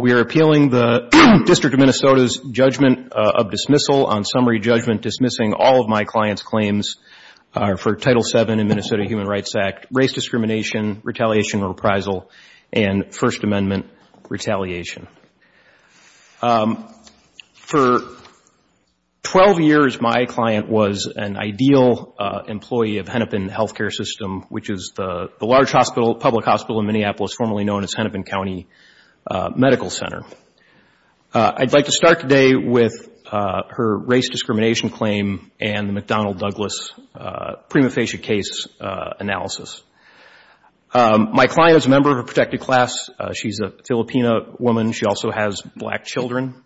We are appealing the District of Minnesota's judgment of dismissal on summary judgment dismissing all of my client's claims for Title VII in Minnesota Human Rights Act, race discrimination, retaliation and reprisal, and First Amendment retaliation. For 12 years, my client was an ideal employee of Hennepin Healthcare System, which is the large public hospital in Minneapolis formerly known as Hennepin County Medical Center. I'd like to start today with her race discrimination claim and the McDonnell Douglas prima facie case analysis. My client is a member of a protected class. She's a Filipina woman. She also has black children.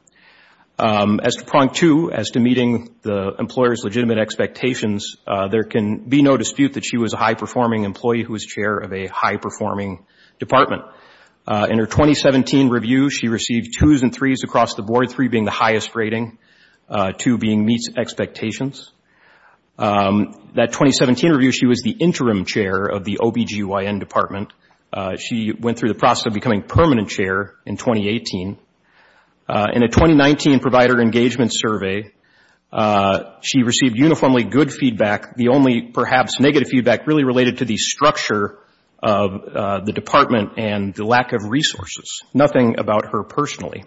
As to prong two, as to meeting the employer's legitimate expectations, there can be no dispute that she was a high-performing employee who was chair of a high-performing department. In her 2017 review, she received twos and threes across the board, three being the highest rating, two being meets expectations. That 2017 review, she was the interim chair of the OBGYN department. She went through the process of becoming permanent chair in 2018. In a 2019 provider engagement survey, she received uniformly good feedback. The only perhaps negative feedback really related to the structure of the department and the lack of resources. Nothing about her personally.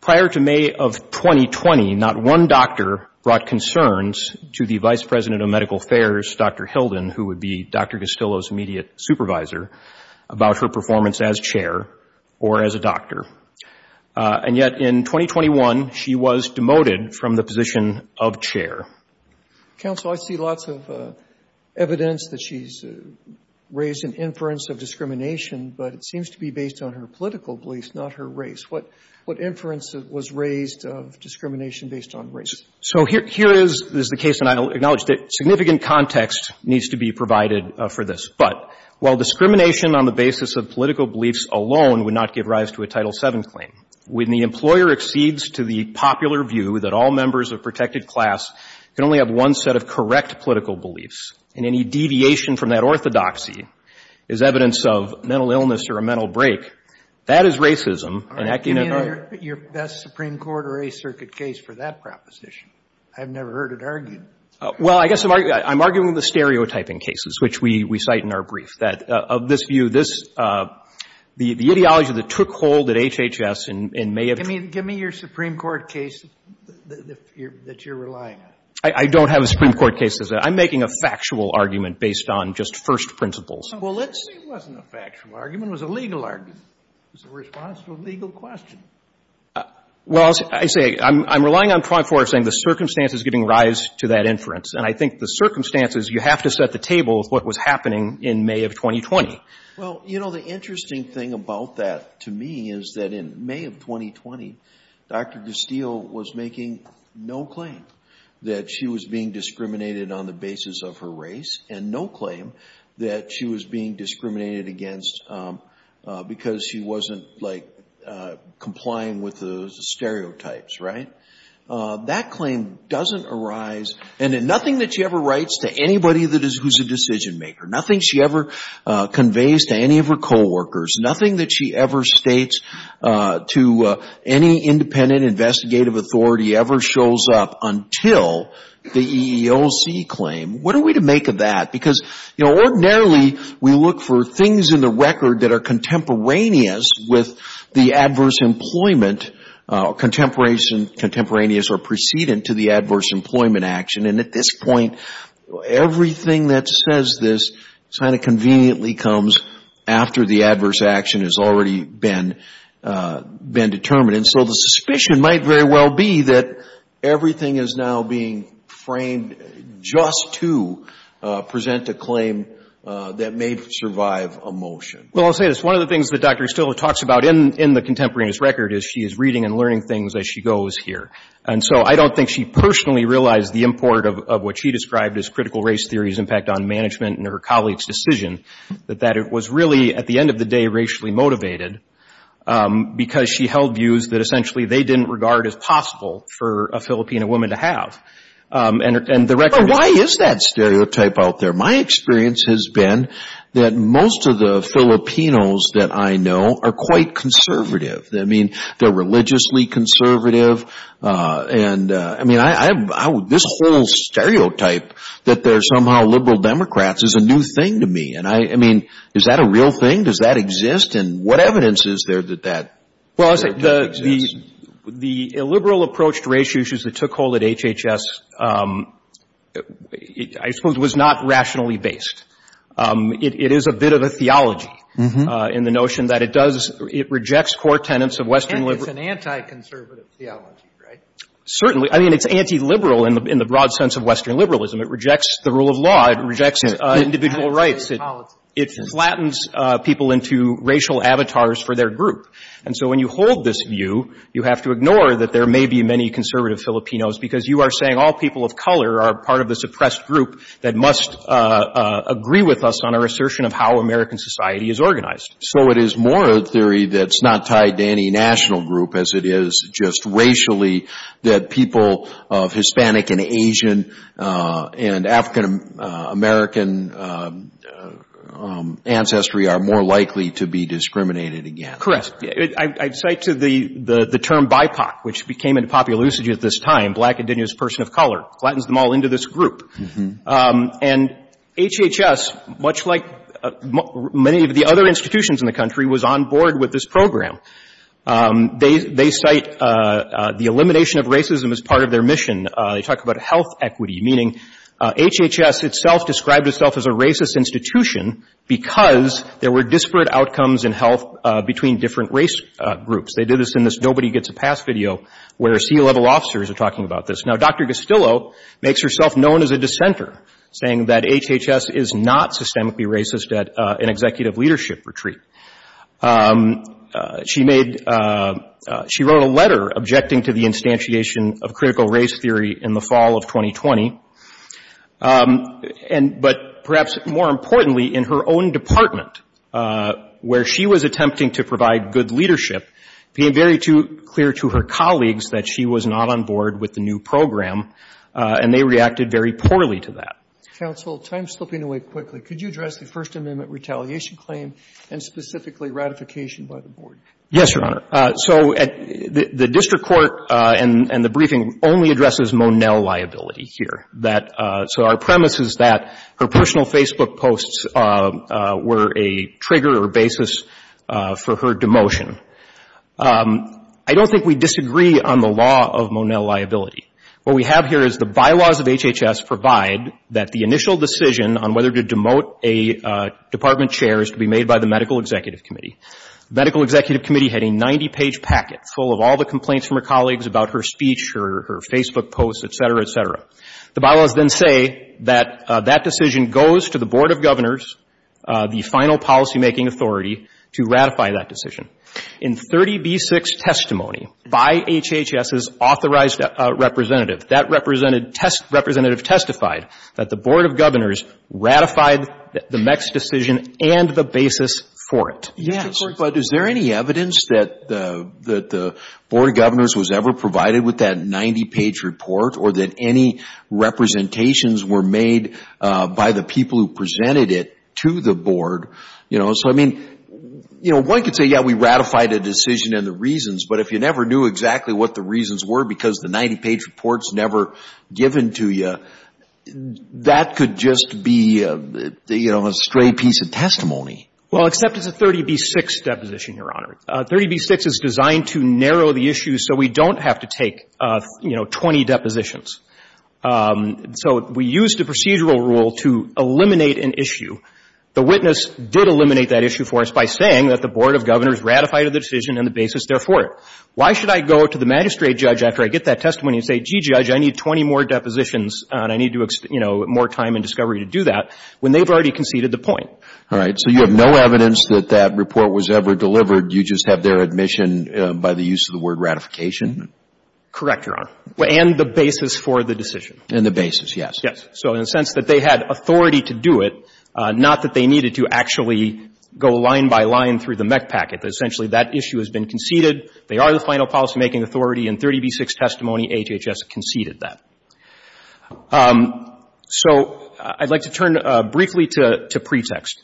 Prior to May of 2020, not one doctor brought concerns to the vice president of medical affairs, Dr. Hilden, who would be Dr. Castillo's immediate supervisor, about her performance as chair or as a doctor. And yet in 2021, she was demoted from the position of chair. Counsel, I see lots of evidence that she's raised an inference of discrimination, but it seems to be based on her political beliefs, not her race. What inference was raised of discrimination based on race? So here is the case, and I acknowledge that significant context needs to be provided for this. But while discrimination on the basis of political beliefs alone would not give rise to a Title VII claim, when the employer exceeds to the popular view that all members of protected class can only have one set of correct political beliefs, and any deviation from that orthodoxy is evidence of mental illness or a mental break, that is racism. All right. Give me your best Supreme Court or Eighth Circuit case for that proposition. I've never heard it argued. Well, I guess I'm arguing the stereotyping cases, which we cite in our brief, that of this view, the ideology that took hold at HHS in May of 2020. Give me your Supreme Court case that you're relying on. I don't have a Supreme Court case. I'm making a factual argument based on just first principles. Well, let's say it wasn't a factual argument. It was a legal argument. It was a response to a legal question. Well, I say I'm relying on 24-H saying the circumstances giving rise to that inference. And I think the circumstances, you have to set the table with what was happening in May of 2020. Well, you know, the interesting thing about that to me is that in May of 2020, Dr. Gustillo was making no claim that she was being discriminated on the basis of her race and no claim that she was being discriminated against because she wasn't, like, complying with the stereotypes, right? That claim doesn't arise, and nothing that she ever writes to anybody who's a decision maker, nothing she ever conveys to any of her coworkers, nothing that she ever states to any independent investigative authority ever shows up until the EEOC claim. What are we to make of that? Because, you know, ordinarily we look for things in the record that are contemporaneous with the adverse employment, contemporaneous or precedent to the adverse employment action. And at this point, everything that says this kind of conveniently comes after the adverse action has already been determined. And so the suspicion might very well be that everything is now being framed just to present a claim that may survive a motion. Well, I'll say this. One of the things that Dr. Gustillo talks about in the contemporaneous record is she is reading and learning things as she goes here. And so I don't think she personally realized the import of what she described as critical race theory's impact on management and her colleagues' decision, that it was really, at the end of the day, racially motivated because she held views that essentially they didn't regard as possible for a Filipino woman to have. Why is that stereotype out there? My experience has been that most of the Filipinos that I know are quite conservative. I mean, they're religiously conservative. I mean, this whole stereotype that they're somehow liberal Democrats is a new thing to me. I mean, is that a real thing? Does that exist? And what evidence is there that that exists? Well, I'll say the illiberal approach to race issues that took hold at HHS, I suppose, was not rationally based. It is a bit of a theology in the notion that it does, it rejects core tenets of Western liberalism. And it's an anti-conservative theology, right? Certainly. I mean, it's anti-liberal in the broad sense of Western liberalism. It rejects the rule of law. It rejects individual rights. It flattens people into racial avatars for their group. And so when you hold this view, you have to ignore that there may be many conservative Filipinos, because you are saying all people of color are part of a suppressed group that must agree with us on our assertion of how American society is organized. So it is more a theory that's not tied to any national group, as it is just racially, that people of Hispanic and Asian and African American ancestry are more likely to be discriminated against. Correct. I cite to the term BIPOC, which became into popular usage at this time, Black Indigenous Person of Color. Flattens them all into this group. And HHS, much like many of the other institutions in the country, was on board with this program. They cite the elimination of racism as part of their mission. They talk about health equity, meaning HHS itself described itself as a racist institution, because there were disparate outcomes in health between different race groups. They do this in this Nobody Gets a Pass video, where C-level officers are talking about this. Now, Dr. Gastillo makes herself known as a dissenter, saying that HHS is not systemically racist at an executive leadership retreat. She made — she wrote a letter objecting to the instantiation of critical race theory in the fall of 2020. But perhaps more importantly, in her own department, where she was attempting to provide good leadership, being very clear to her colleagues that she was not on board with the new program, and they reacted very poorly to that. Counsel, time slipping away quickly. Could you address the First Amendment retaliation claim and specifically ratification by the board? Yes, Your Honor. So the district court and the briefing only addresses Monell liability here. That — so our premise is that her personal Facebook posts were a trigger or basis for her demotion. I don't think we disagree on the law of Monell liability. What we have here is the bylaws of HHS provide that the initial decision on whether to demote a department chair is to be made by the medical executive committee. The medical executive committee had a 90-page packet full of all the complaints from her colleagues about her speech, her Facebook posts, et cetera, et cetera. The bylaws then say that that decision goes to the board of governors, the final policymaking authority, to ratify that decision. In 30B6 testimony by HHS's authorized representative, that representative testified that the board of governors ratified the MECS decision and the basis for it. Yes. But is there any evidence that the board of governors was ever provided with that 90-page report or that any representations were made by the people who presented it to the board? You know, so, I mean, you know, one could say, yeah, we ratified a decision and the reasons. But if you never knew exactly what the reasons were because the 90-page report's never given to you, that could just be, you know, a stray piece of testimony. Well, except it's a 30B6 deposition, Your Honor. 30B6 is designed to narrow the issue so we don't have to take, you know, 20 depositions. So we used a procedural rule to eliminate an issue. The witness did eliminate that issue for us by saying that the board of governors ratified the decision and the basis therefore. Why should I go to the magistrate judge after I get that testimony and say, gee, judge, I need 20 more depositions and I need to, you know, more time and discovery to do that, when they've already conceded the point? All right. So you have no evidence that that report was ever delivered. You just have their admission by the use of the word ratification? Correct, Your Honor. And the basis for the decision. And the basis, yes. Yes. So in a sense that they had authority to do it, not that they needed to actually go line by line through the MEC packet. Essentially, that issue has been conceded. They are the final policymaking authority and 30B6 testimony, HHS conceded that. So I'd like to turn briefly to pretext.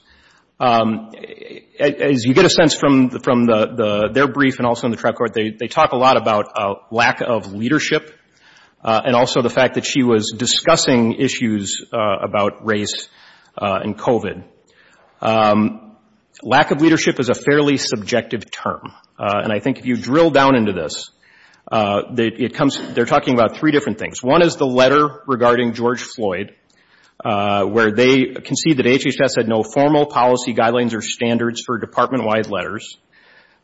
As you get a sense from their brief and also in the trial court, they talk a lot about lack of leadership and also the fact that she was discussing issues about race and COVID. Lack of leadership is a fairly subjective term. And I think if you drill down into this, they're talking about three different things. One is the letter regarding George Floyd, where they concede that HHS had no formal policy guidelines or standards for department-wide letters.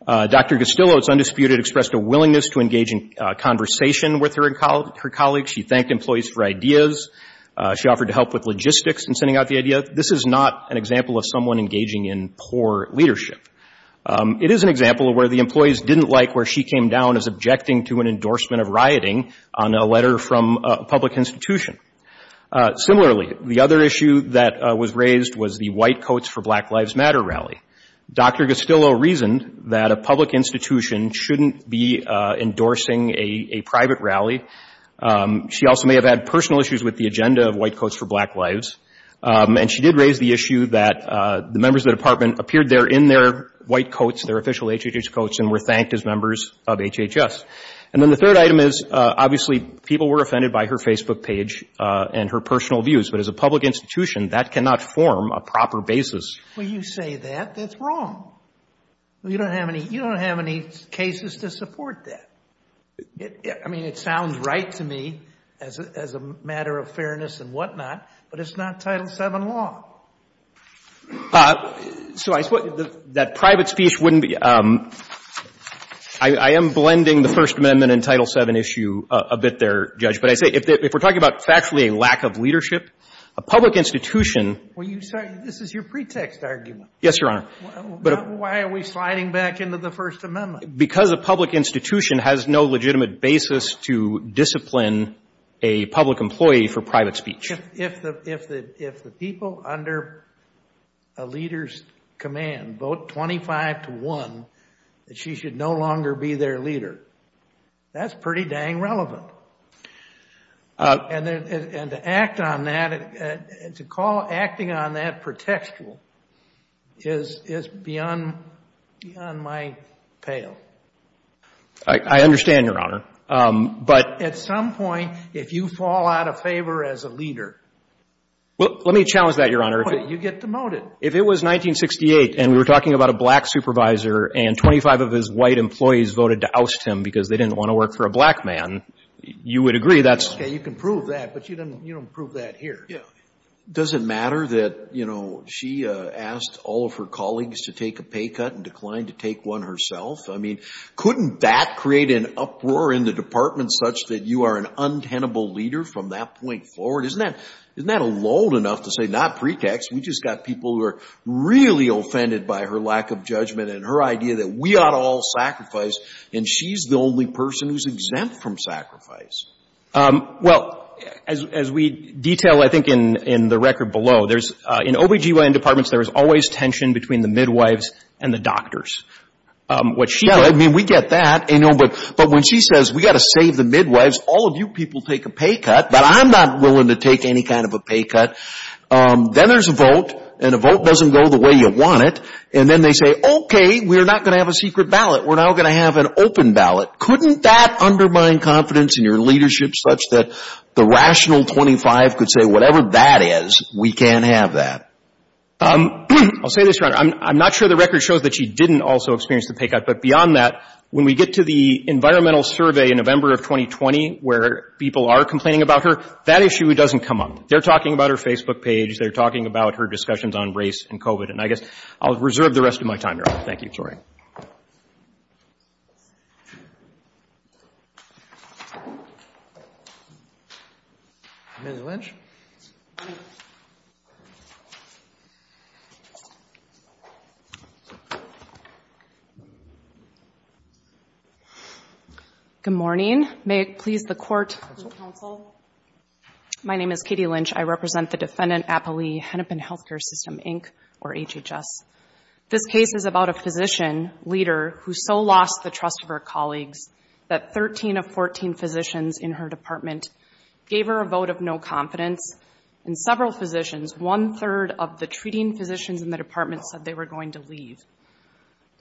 Dr. Gastillo, it's undisputed, expressed a willingness to engage in conversation with her colleagues. She thanked employees for ideas. She offered to help with logistics in sending out the idea. This is not an example of someone engaging in poor leadership. It is an example of where the employees didn't like where she came down as objecting to an endorsement of rioting on a letter from a public institution. Similarly, the other issue that was raised was the white coats for Black Lives Matter rally. Dr. Gastillo reasoned that a public institution shouldn't be endorsing a private rally. She also may have had personal issues with the agenda of white coats for black lives. And she did raise the issue that the members of the department appeared there in their white coats, their official HHS coats, and were thanked as members of HHS. And then the third item is, obviously, people were offended by her Facebook page and her personal views. But as a public institution, that cannot form a proper basis. Well, you say that. That's wrong. You don't have any cases to support that. I mean, it sounds right to me as a matter of fairness and whatnot, but it's not Title VII law. So I suppose that private speech wouldn't be — I am blending the First Amendment and Title VII issue a bit there, Judge. But I say, if we're talking about factually a lack of leadership, a public institution — Well, this is your pretext argument. Yes, Your Honor. Why are we sliding back into the First Amendment? Because a public institution has no legitimate basis to discipline a public employee for private speech. If the people under a leader's command vote 25 to 1 that she should no longer be their leader, that's pretty dang relevant. But acting on that pretextual is beyond my pale. I understand, Your Honor. But at some point, if you fall out of favor as a leader — Well, let me challenge that, Your Honor. You get demoted. If it was 1968 and we were talking about a black supervisor and 25 of his white employees voted to oust him because they didn't want to work for a black man, you would agree that's — Okay, you can prove that, but you don't prove that here. Yeah. Doesn't matter that, you know, she asked all of her colleagues to take a pay cut and declined to take one herself? I mean, couldn't that create an uproar in the Department such that you are an untenable leader from that point forward? Isn't that — isn't that old enough to say, not pretext, we just got people who are really offended by her lack of judgment and her idea that we ought to all sacrifice and she's the only person who's exempt from sacrifice? Well, as we detail, I think, in the record below, there's — in OB-GYN departments, there is always tension between the midwives and the doctors. What she does — she doesn't take any kind of a pay cut. Then there's a vote, and a vote doesn't go the way you want it. And then they say, okay, we're not going to have a secret ballot. We're now going to have an open ballot. Couldn't that undermine confidence in your leadership such that the rational 25 could say, whatever that is, we can't have that? I'll say this, Your Honor, I'm not sure the record shows that she didn't also experience the pay cut. But beyond that, when we get to the environmental survey in November of 2020, where people are complaining about her, that issue doesn't come up. They're talking about her Facebook page. They're talking about her discussions on race and COVID. And I guess I'll reserve the rest of my time, Your Honor. Thank you. Good morning. May it please the Court and the Counsel, my name is Katie Lynch. I represent the defendant, Apollee Hennepin Healthcare System, Inc., or HHS. This case is about a physician leader who so lost the trust of her colleagues that 13 of 14 physicians in her department gave her a vote of no confidence. And several physicians, one-third of the treating physicians in the department, said they were going to leave.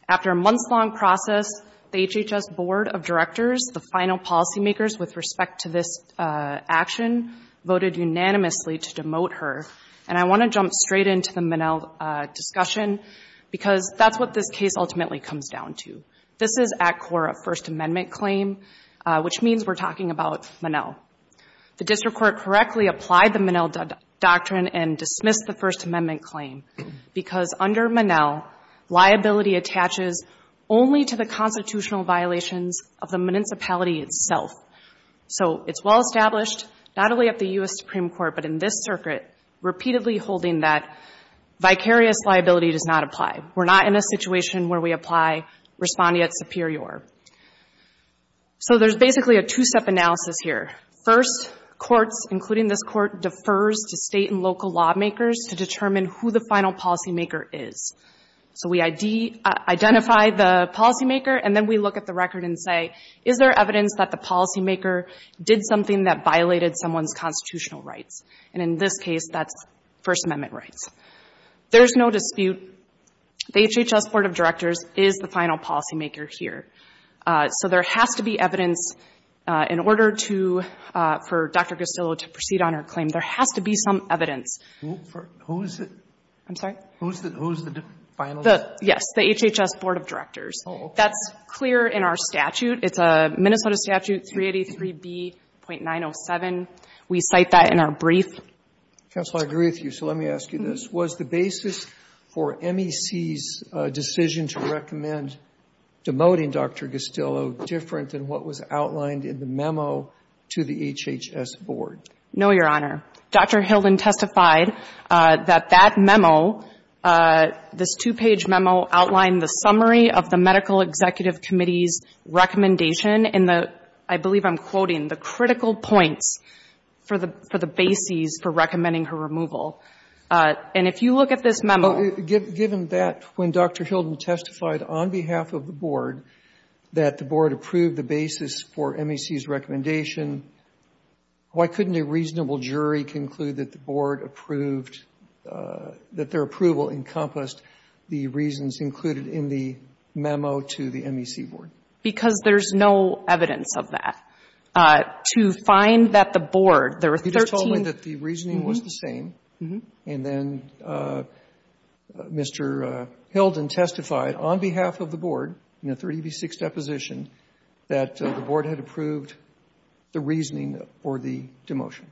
After a months-long process, the HHS Board of Directors, the final policymakers with respect to this action, voted unanimously to demote her. And I want to jump straight into the Monell discussion, because that's what this case ultimately comes down to. This is at core a First Amendment claim, which means we're talking about Monell. The District Court correctly applied the Monell Doctrine and dismissed the First Amendment claim. Because under Monell, liability attaches only to the constitutional violations of the municipality itself. So it's well established, not only at the U.S. Supreme Court, but in this circuit, repeatedly holding that vicarious liability does not apply. We're not in a situation where we apply respondeat superior. So there's basically a two-step analysis here. First, courts, including this Court, defers to state and local lawmakers to determine who the final policymaker is. So we identify the policymaker, and then we look at the record and say, is there evidence that the policymaker did something that violated someone's constitutional rights? And in this case, that's First Amendment rights. There's no dispute. The HHS Board of Directors is the final policymaker here. So there has to be evidence in order to, for Dr. Costillo to proceed on her claim. There has to be some evidence. Who is it? I'm sorry? Who is the finalist? Yes, the HHS Board of Directors. Oh, okay. That's clear in our statute. It's a Minnesota statute, 383B.907. We cite that in our brief. Counsel, I agree with you, so let me ask you this. Was the basis for MEC's decision to recommend demoting Dr. Costillo different than what was outlined in the memo to the HHS Board? No, Your Honor. Dr. Hilden testified that that memo, this two-page memo, outlined the summary of the Medical Executive Committee's recommendation in the, I believe I'm quoting, the critical points for the bases for recommending her removal. And if you look at this memo Given that when Dr. Hilden testified on behalf of the Board that the Board approved the basis for MEC's recommendation, why couldn't a reasonable jury conclude that the Board approved, that their approval encompassed the reasons included in the memo to the MEC Board? Because there's no evidence of that. To find that the Board, there were 13 He just told me that the reasoning was the same. And then Mr. Hilden testified on behalf of the Board in a 386 deposition that the Board had approved the reasoning for the demotion.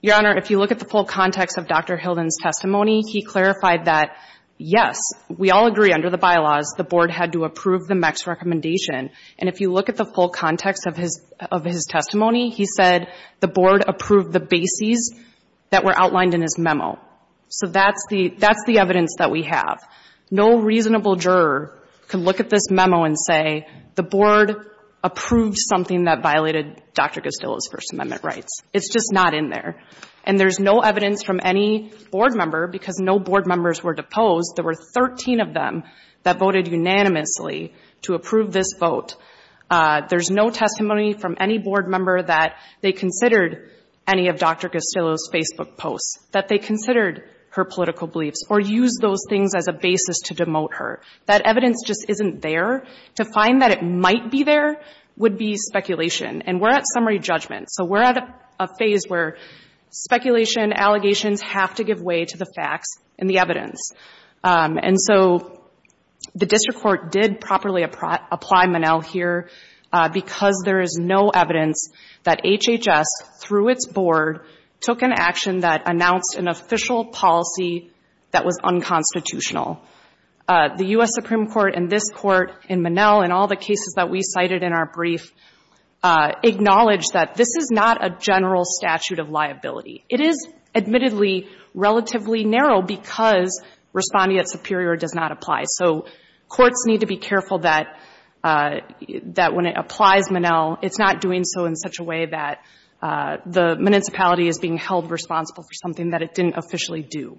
Your Honor, if you look at the full context of Dr. Hilden's testimony, he clarified that, yes, we all agree under the bylaws the Board had to approve the MEC's recommendation. And if you look at the full context of his testimony, he said the Board approved the bases that were outlined in his memo. So that's the evidence that we have. No reasonable juror can look at this memo and say, the Board approved something that violated Dr. Costillo's First Amendment rights. It's just not in there. And there's no evidence from any Board member, because no Board members were deposed. There were 13 of them that voted unanimously to approve this vote. There's no testimony from any Board member that they considered any of Dr. Costillo's Facebook posts, that they considered her political beliefs, or used those things as a basis to demote her. That evidence just isn't there. To find that it might be there would be speculation. And we're at summary judgment. So we're at a phase where speculation, allegations have to give way to the facts and the evidence. And so the District Court did properly apply Monell here, because there is no evidence that HHS, through its Board, took an action that announced an official policy that was unconstitutional. The U.S. Supreme Court and this Court in Monell, in all the cases that we cited in our brief, acknowledged that this is not a general statute of liability. It is, admittedly, relatively narrow because responding at superior does not apply. So courts need to be careful that when it applies Monell, it's not doing so in such a way that the municipality is being held responsible for something that it didn't officially do.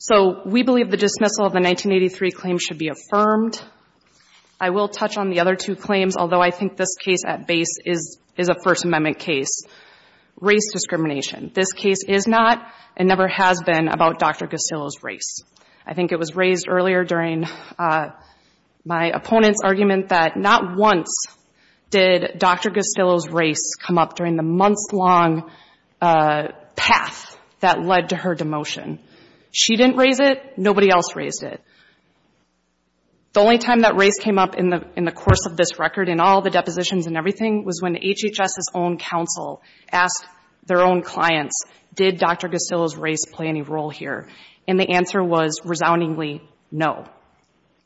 So we believe the dismissal of the 1983 claim should be affirmed. I will touch on the other two claims, although I think this case at base is a First Amendment case. Race discrimination. This case is not and never has been about Dr. Costillo's race. I think it was raised earlier during my opponent's argument that not once did Dr. Costillo's race come up during the months-long path that led to her demotion. She didn't raise it. Nobody else raised it. The only time that race came up in the course of this record, in all the depositions and everything, was when HHS's own counsel asked their own clients, did Dr. Costillo's race play any role here? And the answer was resoundingly, no.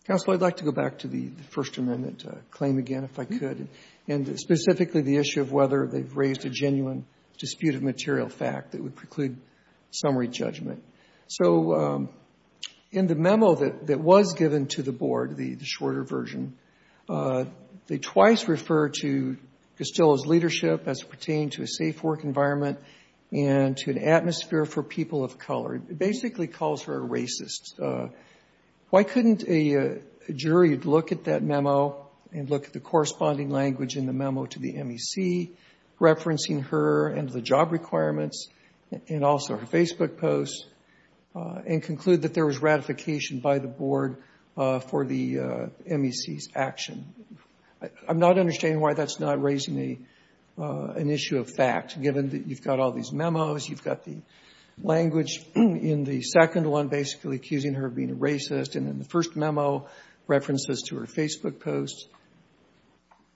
Counsel, I'd like to go back to the First Amendment claim again, if I could, and specifically the issue of whether they've raised a genuine dispute of material fact that would preclude summary judgment. So in the memo that was given to the board, the shorter version, they twice refer to Costillo's leadership as pertaining to a safe work environment and to an atmosphere for people of color. It basically calls her a racist. Why couldn't a jury look at that memo and look at the corresponding language in the memo to the MEC, referencing her and the job requirements, and also her Facebook posts, and conclude that there was ratification by the board for the MEC's action? I'm not understanding why that's not raising an issue of fact, given that you've got all these memos, you've got the language in the second one basically accusing her of being a racist, and in the first memo references to her Facebook posts.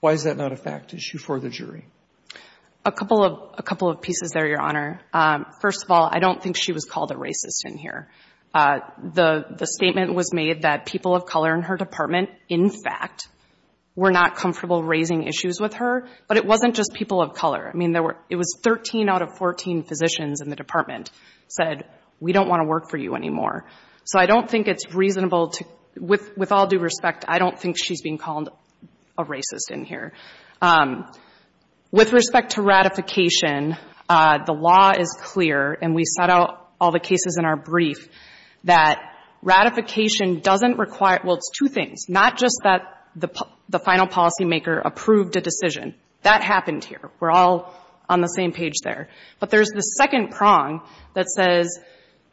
Why is that not a fact issue for the jury? A couple of pieces there, Your Honor. First of all, I don't think she was called a racist in here. The statement was made that people of color in her department, in fact, were not comfortable raising issues with her, but it wasn't just people of color. I mean, it was 13 out of 14 physicians in the department said, we don't want to work for you anymore. So I don't think it's reasonable to, with all due respect, I don't think she's being called a racist in here. With respect to ratification, the law is clear, and we set out all the cases in our brief, that ratification doesn't require, well, it's two things. Not just that the final policymaker approved a decision. That happened here. We're all on the same page there. But there's the second prong that says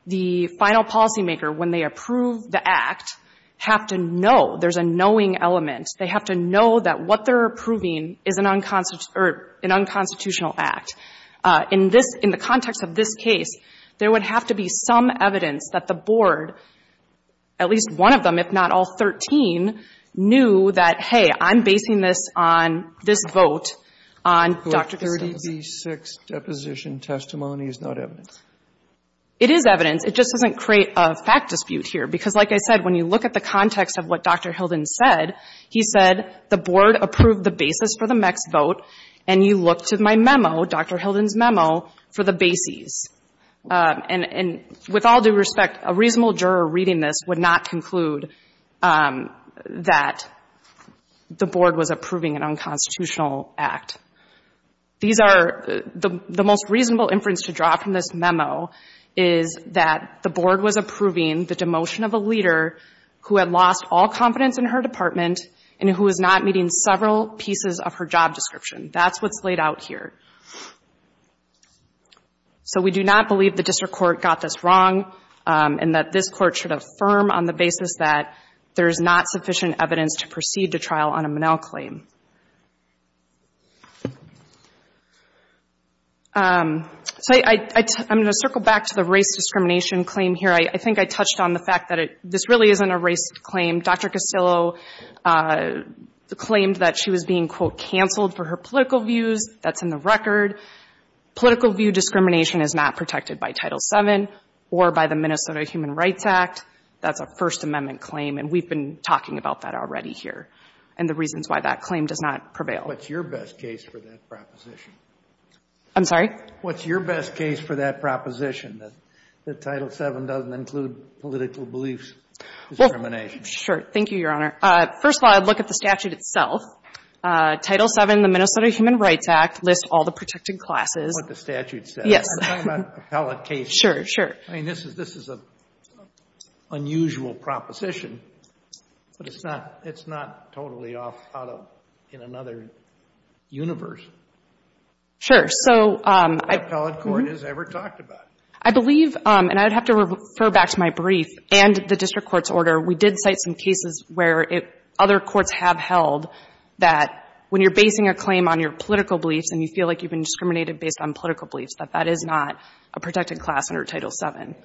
the final policymaker, when they approve the act, have to know. There's a knowing element. They have to know that what they're approving is an unconstitutional act. In this, in the context of this case, there would have to be some evidence that the board, at least one of them, if not all 13, knew that, hey, I'm basing this on this vote on Dr. Gustafson. Kennedy's sixth deposition testimony is not evidence. It is evidence. It just doesn't create a fact dispute here. Because, like I said, when you look at the context of what Dr. Hilden said, he said, the board approved the basis for the next vote, and you look to my memo, Dr. Hilden's memo, for the bases. And with all due respect, a reasonable juror reading this would not conclude that the board was approving an unconstitutional act. These are, the most reasonable inference to draw from this memo is that the board was approving the demotion of a leader who had lost all confidence in her department and who is not meeting several pieces of her job description. That's what's laid out here. So we do not believe the district court got this wrong and that this court should affirm on the basis that there is not sufficient evidence to proceed to trial on a Monell claim. So I'm going to circle back to the race discrimination claim here. I think I touched on the fact that this really isn't a race claim. Dr. Castillo claimed that she was being, quote, canceled for her political views. That's in the record. Political view discrimination is not protected by Title VII or by the Minnesota Human Rights Act. That's a First Amendment claim, and we've been talking about that already here and the reasons why that claim does not prevail. What's your best case for that proposition? I'm sorry? What's your best case for that proposition, that Title VII doesn't include political beliefs discrimination? Well, sure. Thank you, Your Honor. First of all, I'd look at the statute itself. Title VII, the Minnesota Human Rights Act, lists all the protected classes. That's what the statute says. Yes. I'm talking about appellate cases. Sure, sure. I mean, this is a unusual proposition, but it's not totally off out of in another universe. Sure. So I believe, and I'd have to refer back to my brief and the district court's order. We did cite some cases where other courts have held that when you're basing a claim on your political beliefs and you feel like you've been discriminated based on political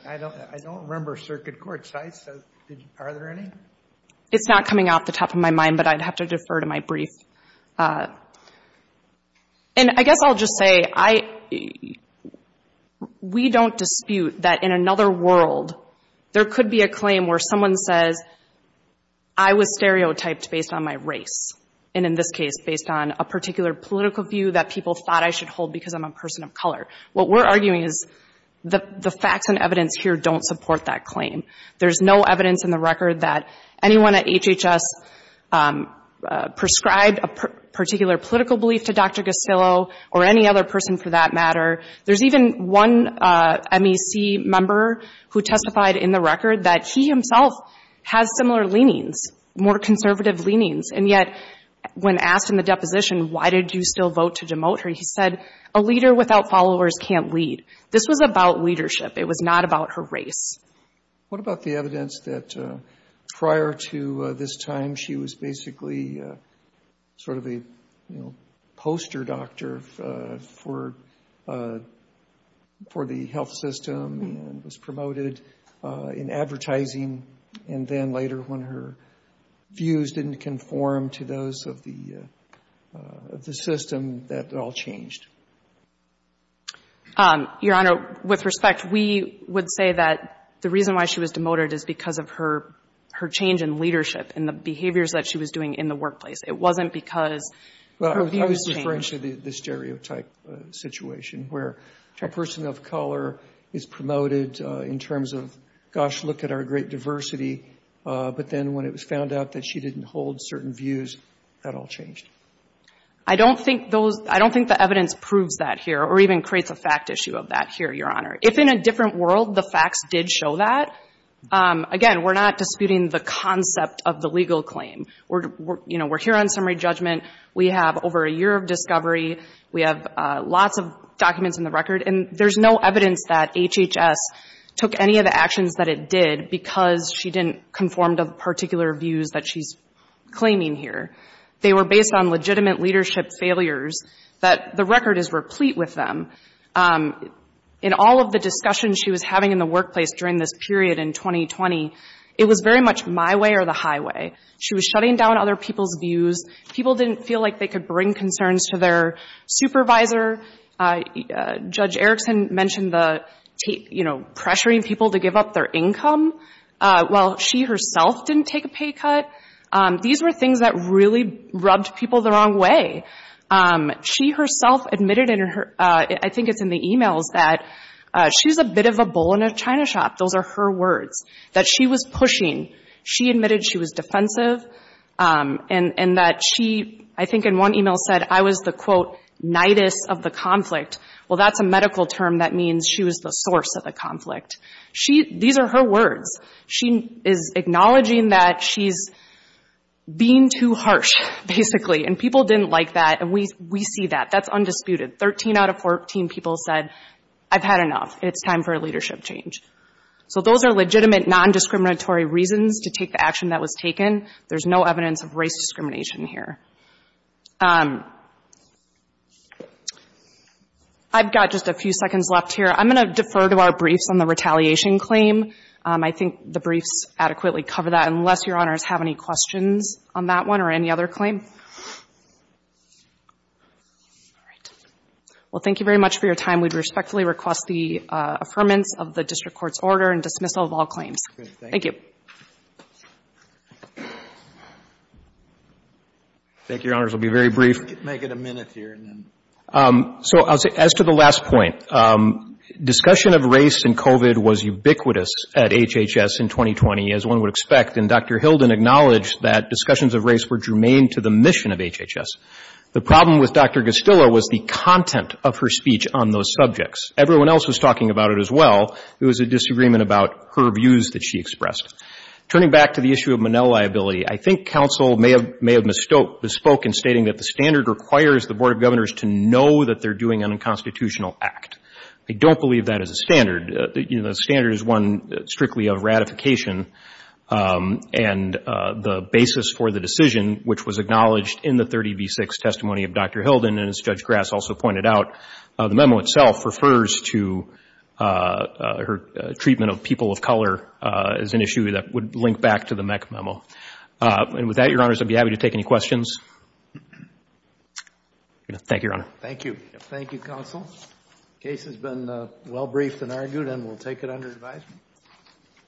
I don't remember circuit court sites. Are there any? It's not coming off the top of my mind, but I'd have to defer to my brief. And I guess I'll just say, we don't dispute that in another world, there could be a claim where someone says, I was stereotyped based on my race, and in this case, based on a particular political view that people thought I should hold because I'm a person of color. What we're arguing is the facts and evidence here don't support that claim. There's no evidence in the record that anyone at HHS prescribed a particular political belief to Dr. Gosillo or any other person for that matter. There's even one MEC member who testified in the record that he himself has similar leanings, more conservative leanings, and yet when asked in the deposition, why did you still vote to demote her, he said, a leader without followers can't lead. This was about leadership. It was not about her race. What about the evidence that prior to this time she was basically sort of a poster doctor for the health system and was promoted in advertising and then later when her views didn't conform to those of the system that it all changed? Your Honor, with respect, we would say that the reason why she was demoted is because of her change in leadership and the behaviors that she was doing in the workplace. It wasn't because her views changed. Well, I was referring to the stereotype situation where a person of color is promoted in terms of, gosh, look at our great diversity, but then when it was found out that she didn't hold certain views, that all changed. I don't think the evidence proves that here or even creates a fact issue of that here, Your Honor. If in a different world the facts did show that, again, we're not disputing the concept of the legal claim. We're here on summary judgment. We have over a year of discovery. We have lots of documents in the record, and there's no evidence that HHS took any of the actions that it did because she didn't conform to the particular views that she's claiming here. They were based on legitimate leadership failures that the record is replete with them. In all of the discussion she was having in the workplace during this period in 2020, it was very much my way or the highway. She was shutting down other people's views. People didn't feel like they could bring concerns to their supervisor. Judge Erickson mentioned the, you know, pressuring people to give up their income. Well, she herself didn't take a pay cut. These were things that really rubbed people the wrong way. She herself admitted in her, I think it's in the e-mails, that she's a bit of a bull in a china shop. Those are her words, that she was pushing. She admitted she was defensive and that she, I think in one e-mail, said I was the, quote, knightess of the conflict. Well, that's a medical term that means she was the source of the conflict. These are her words. She is acknowledging that she's being too harsh, basically, and people didn't like that. And we see that. That's undisputed. Thirteen out of 14 people said I've had enough. It's time for a leadership change. So those are legitimate non-discriminatory reasons to take the action that was taken. There's no evidence of race discrimination here. I've got just a few seconds left here. I'm going to defer to our briefs on the retaliation claim. I think the briefs adequately cover that, unless Your Honors have any questions on that one or any other claim. All right. Well, thank you very much for your time. We respectfully request the affirmance of the district court's order and dismissal of all claims. Thank you. Thank you, Your Honors. I'll be very brief. Make it a minute here. So as to the last point, discussion of race in COVID was ubiquitous at HHS in 2020, as one would expect, and Dr. Hilden acknowledged that discussions of race were germane to the mission of HHS. The problem with Dr. Gastilla was the content of her speech on those subjects. Everyone else was talking about it as well. It was a disagreement about her views that she expressed. Turning back to the issue of Monell liability, I think counsel may have misspoke in stating that the standard requires the Board of Governors to know that they're doing an unconstitutional act. I don't believe that is a standard. The standard is one strictly of ratification, and the basis for the decision, which was acknowledged in the 30B6 testimony of Dr. Hilden, and as Judge Grass also pointed out, the memo itself refers to her treatment of people of color as an issue that would link back to the MEC memo. And with that, Your Honors, I'd be happy to take any questions. Thank you, Your Honor. Thank you. Thank you, counsel. The case has been well briefed and argued, and we'll take it under advisement.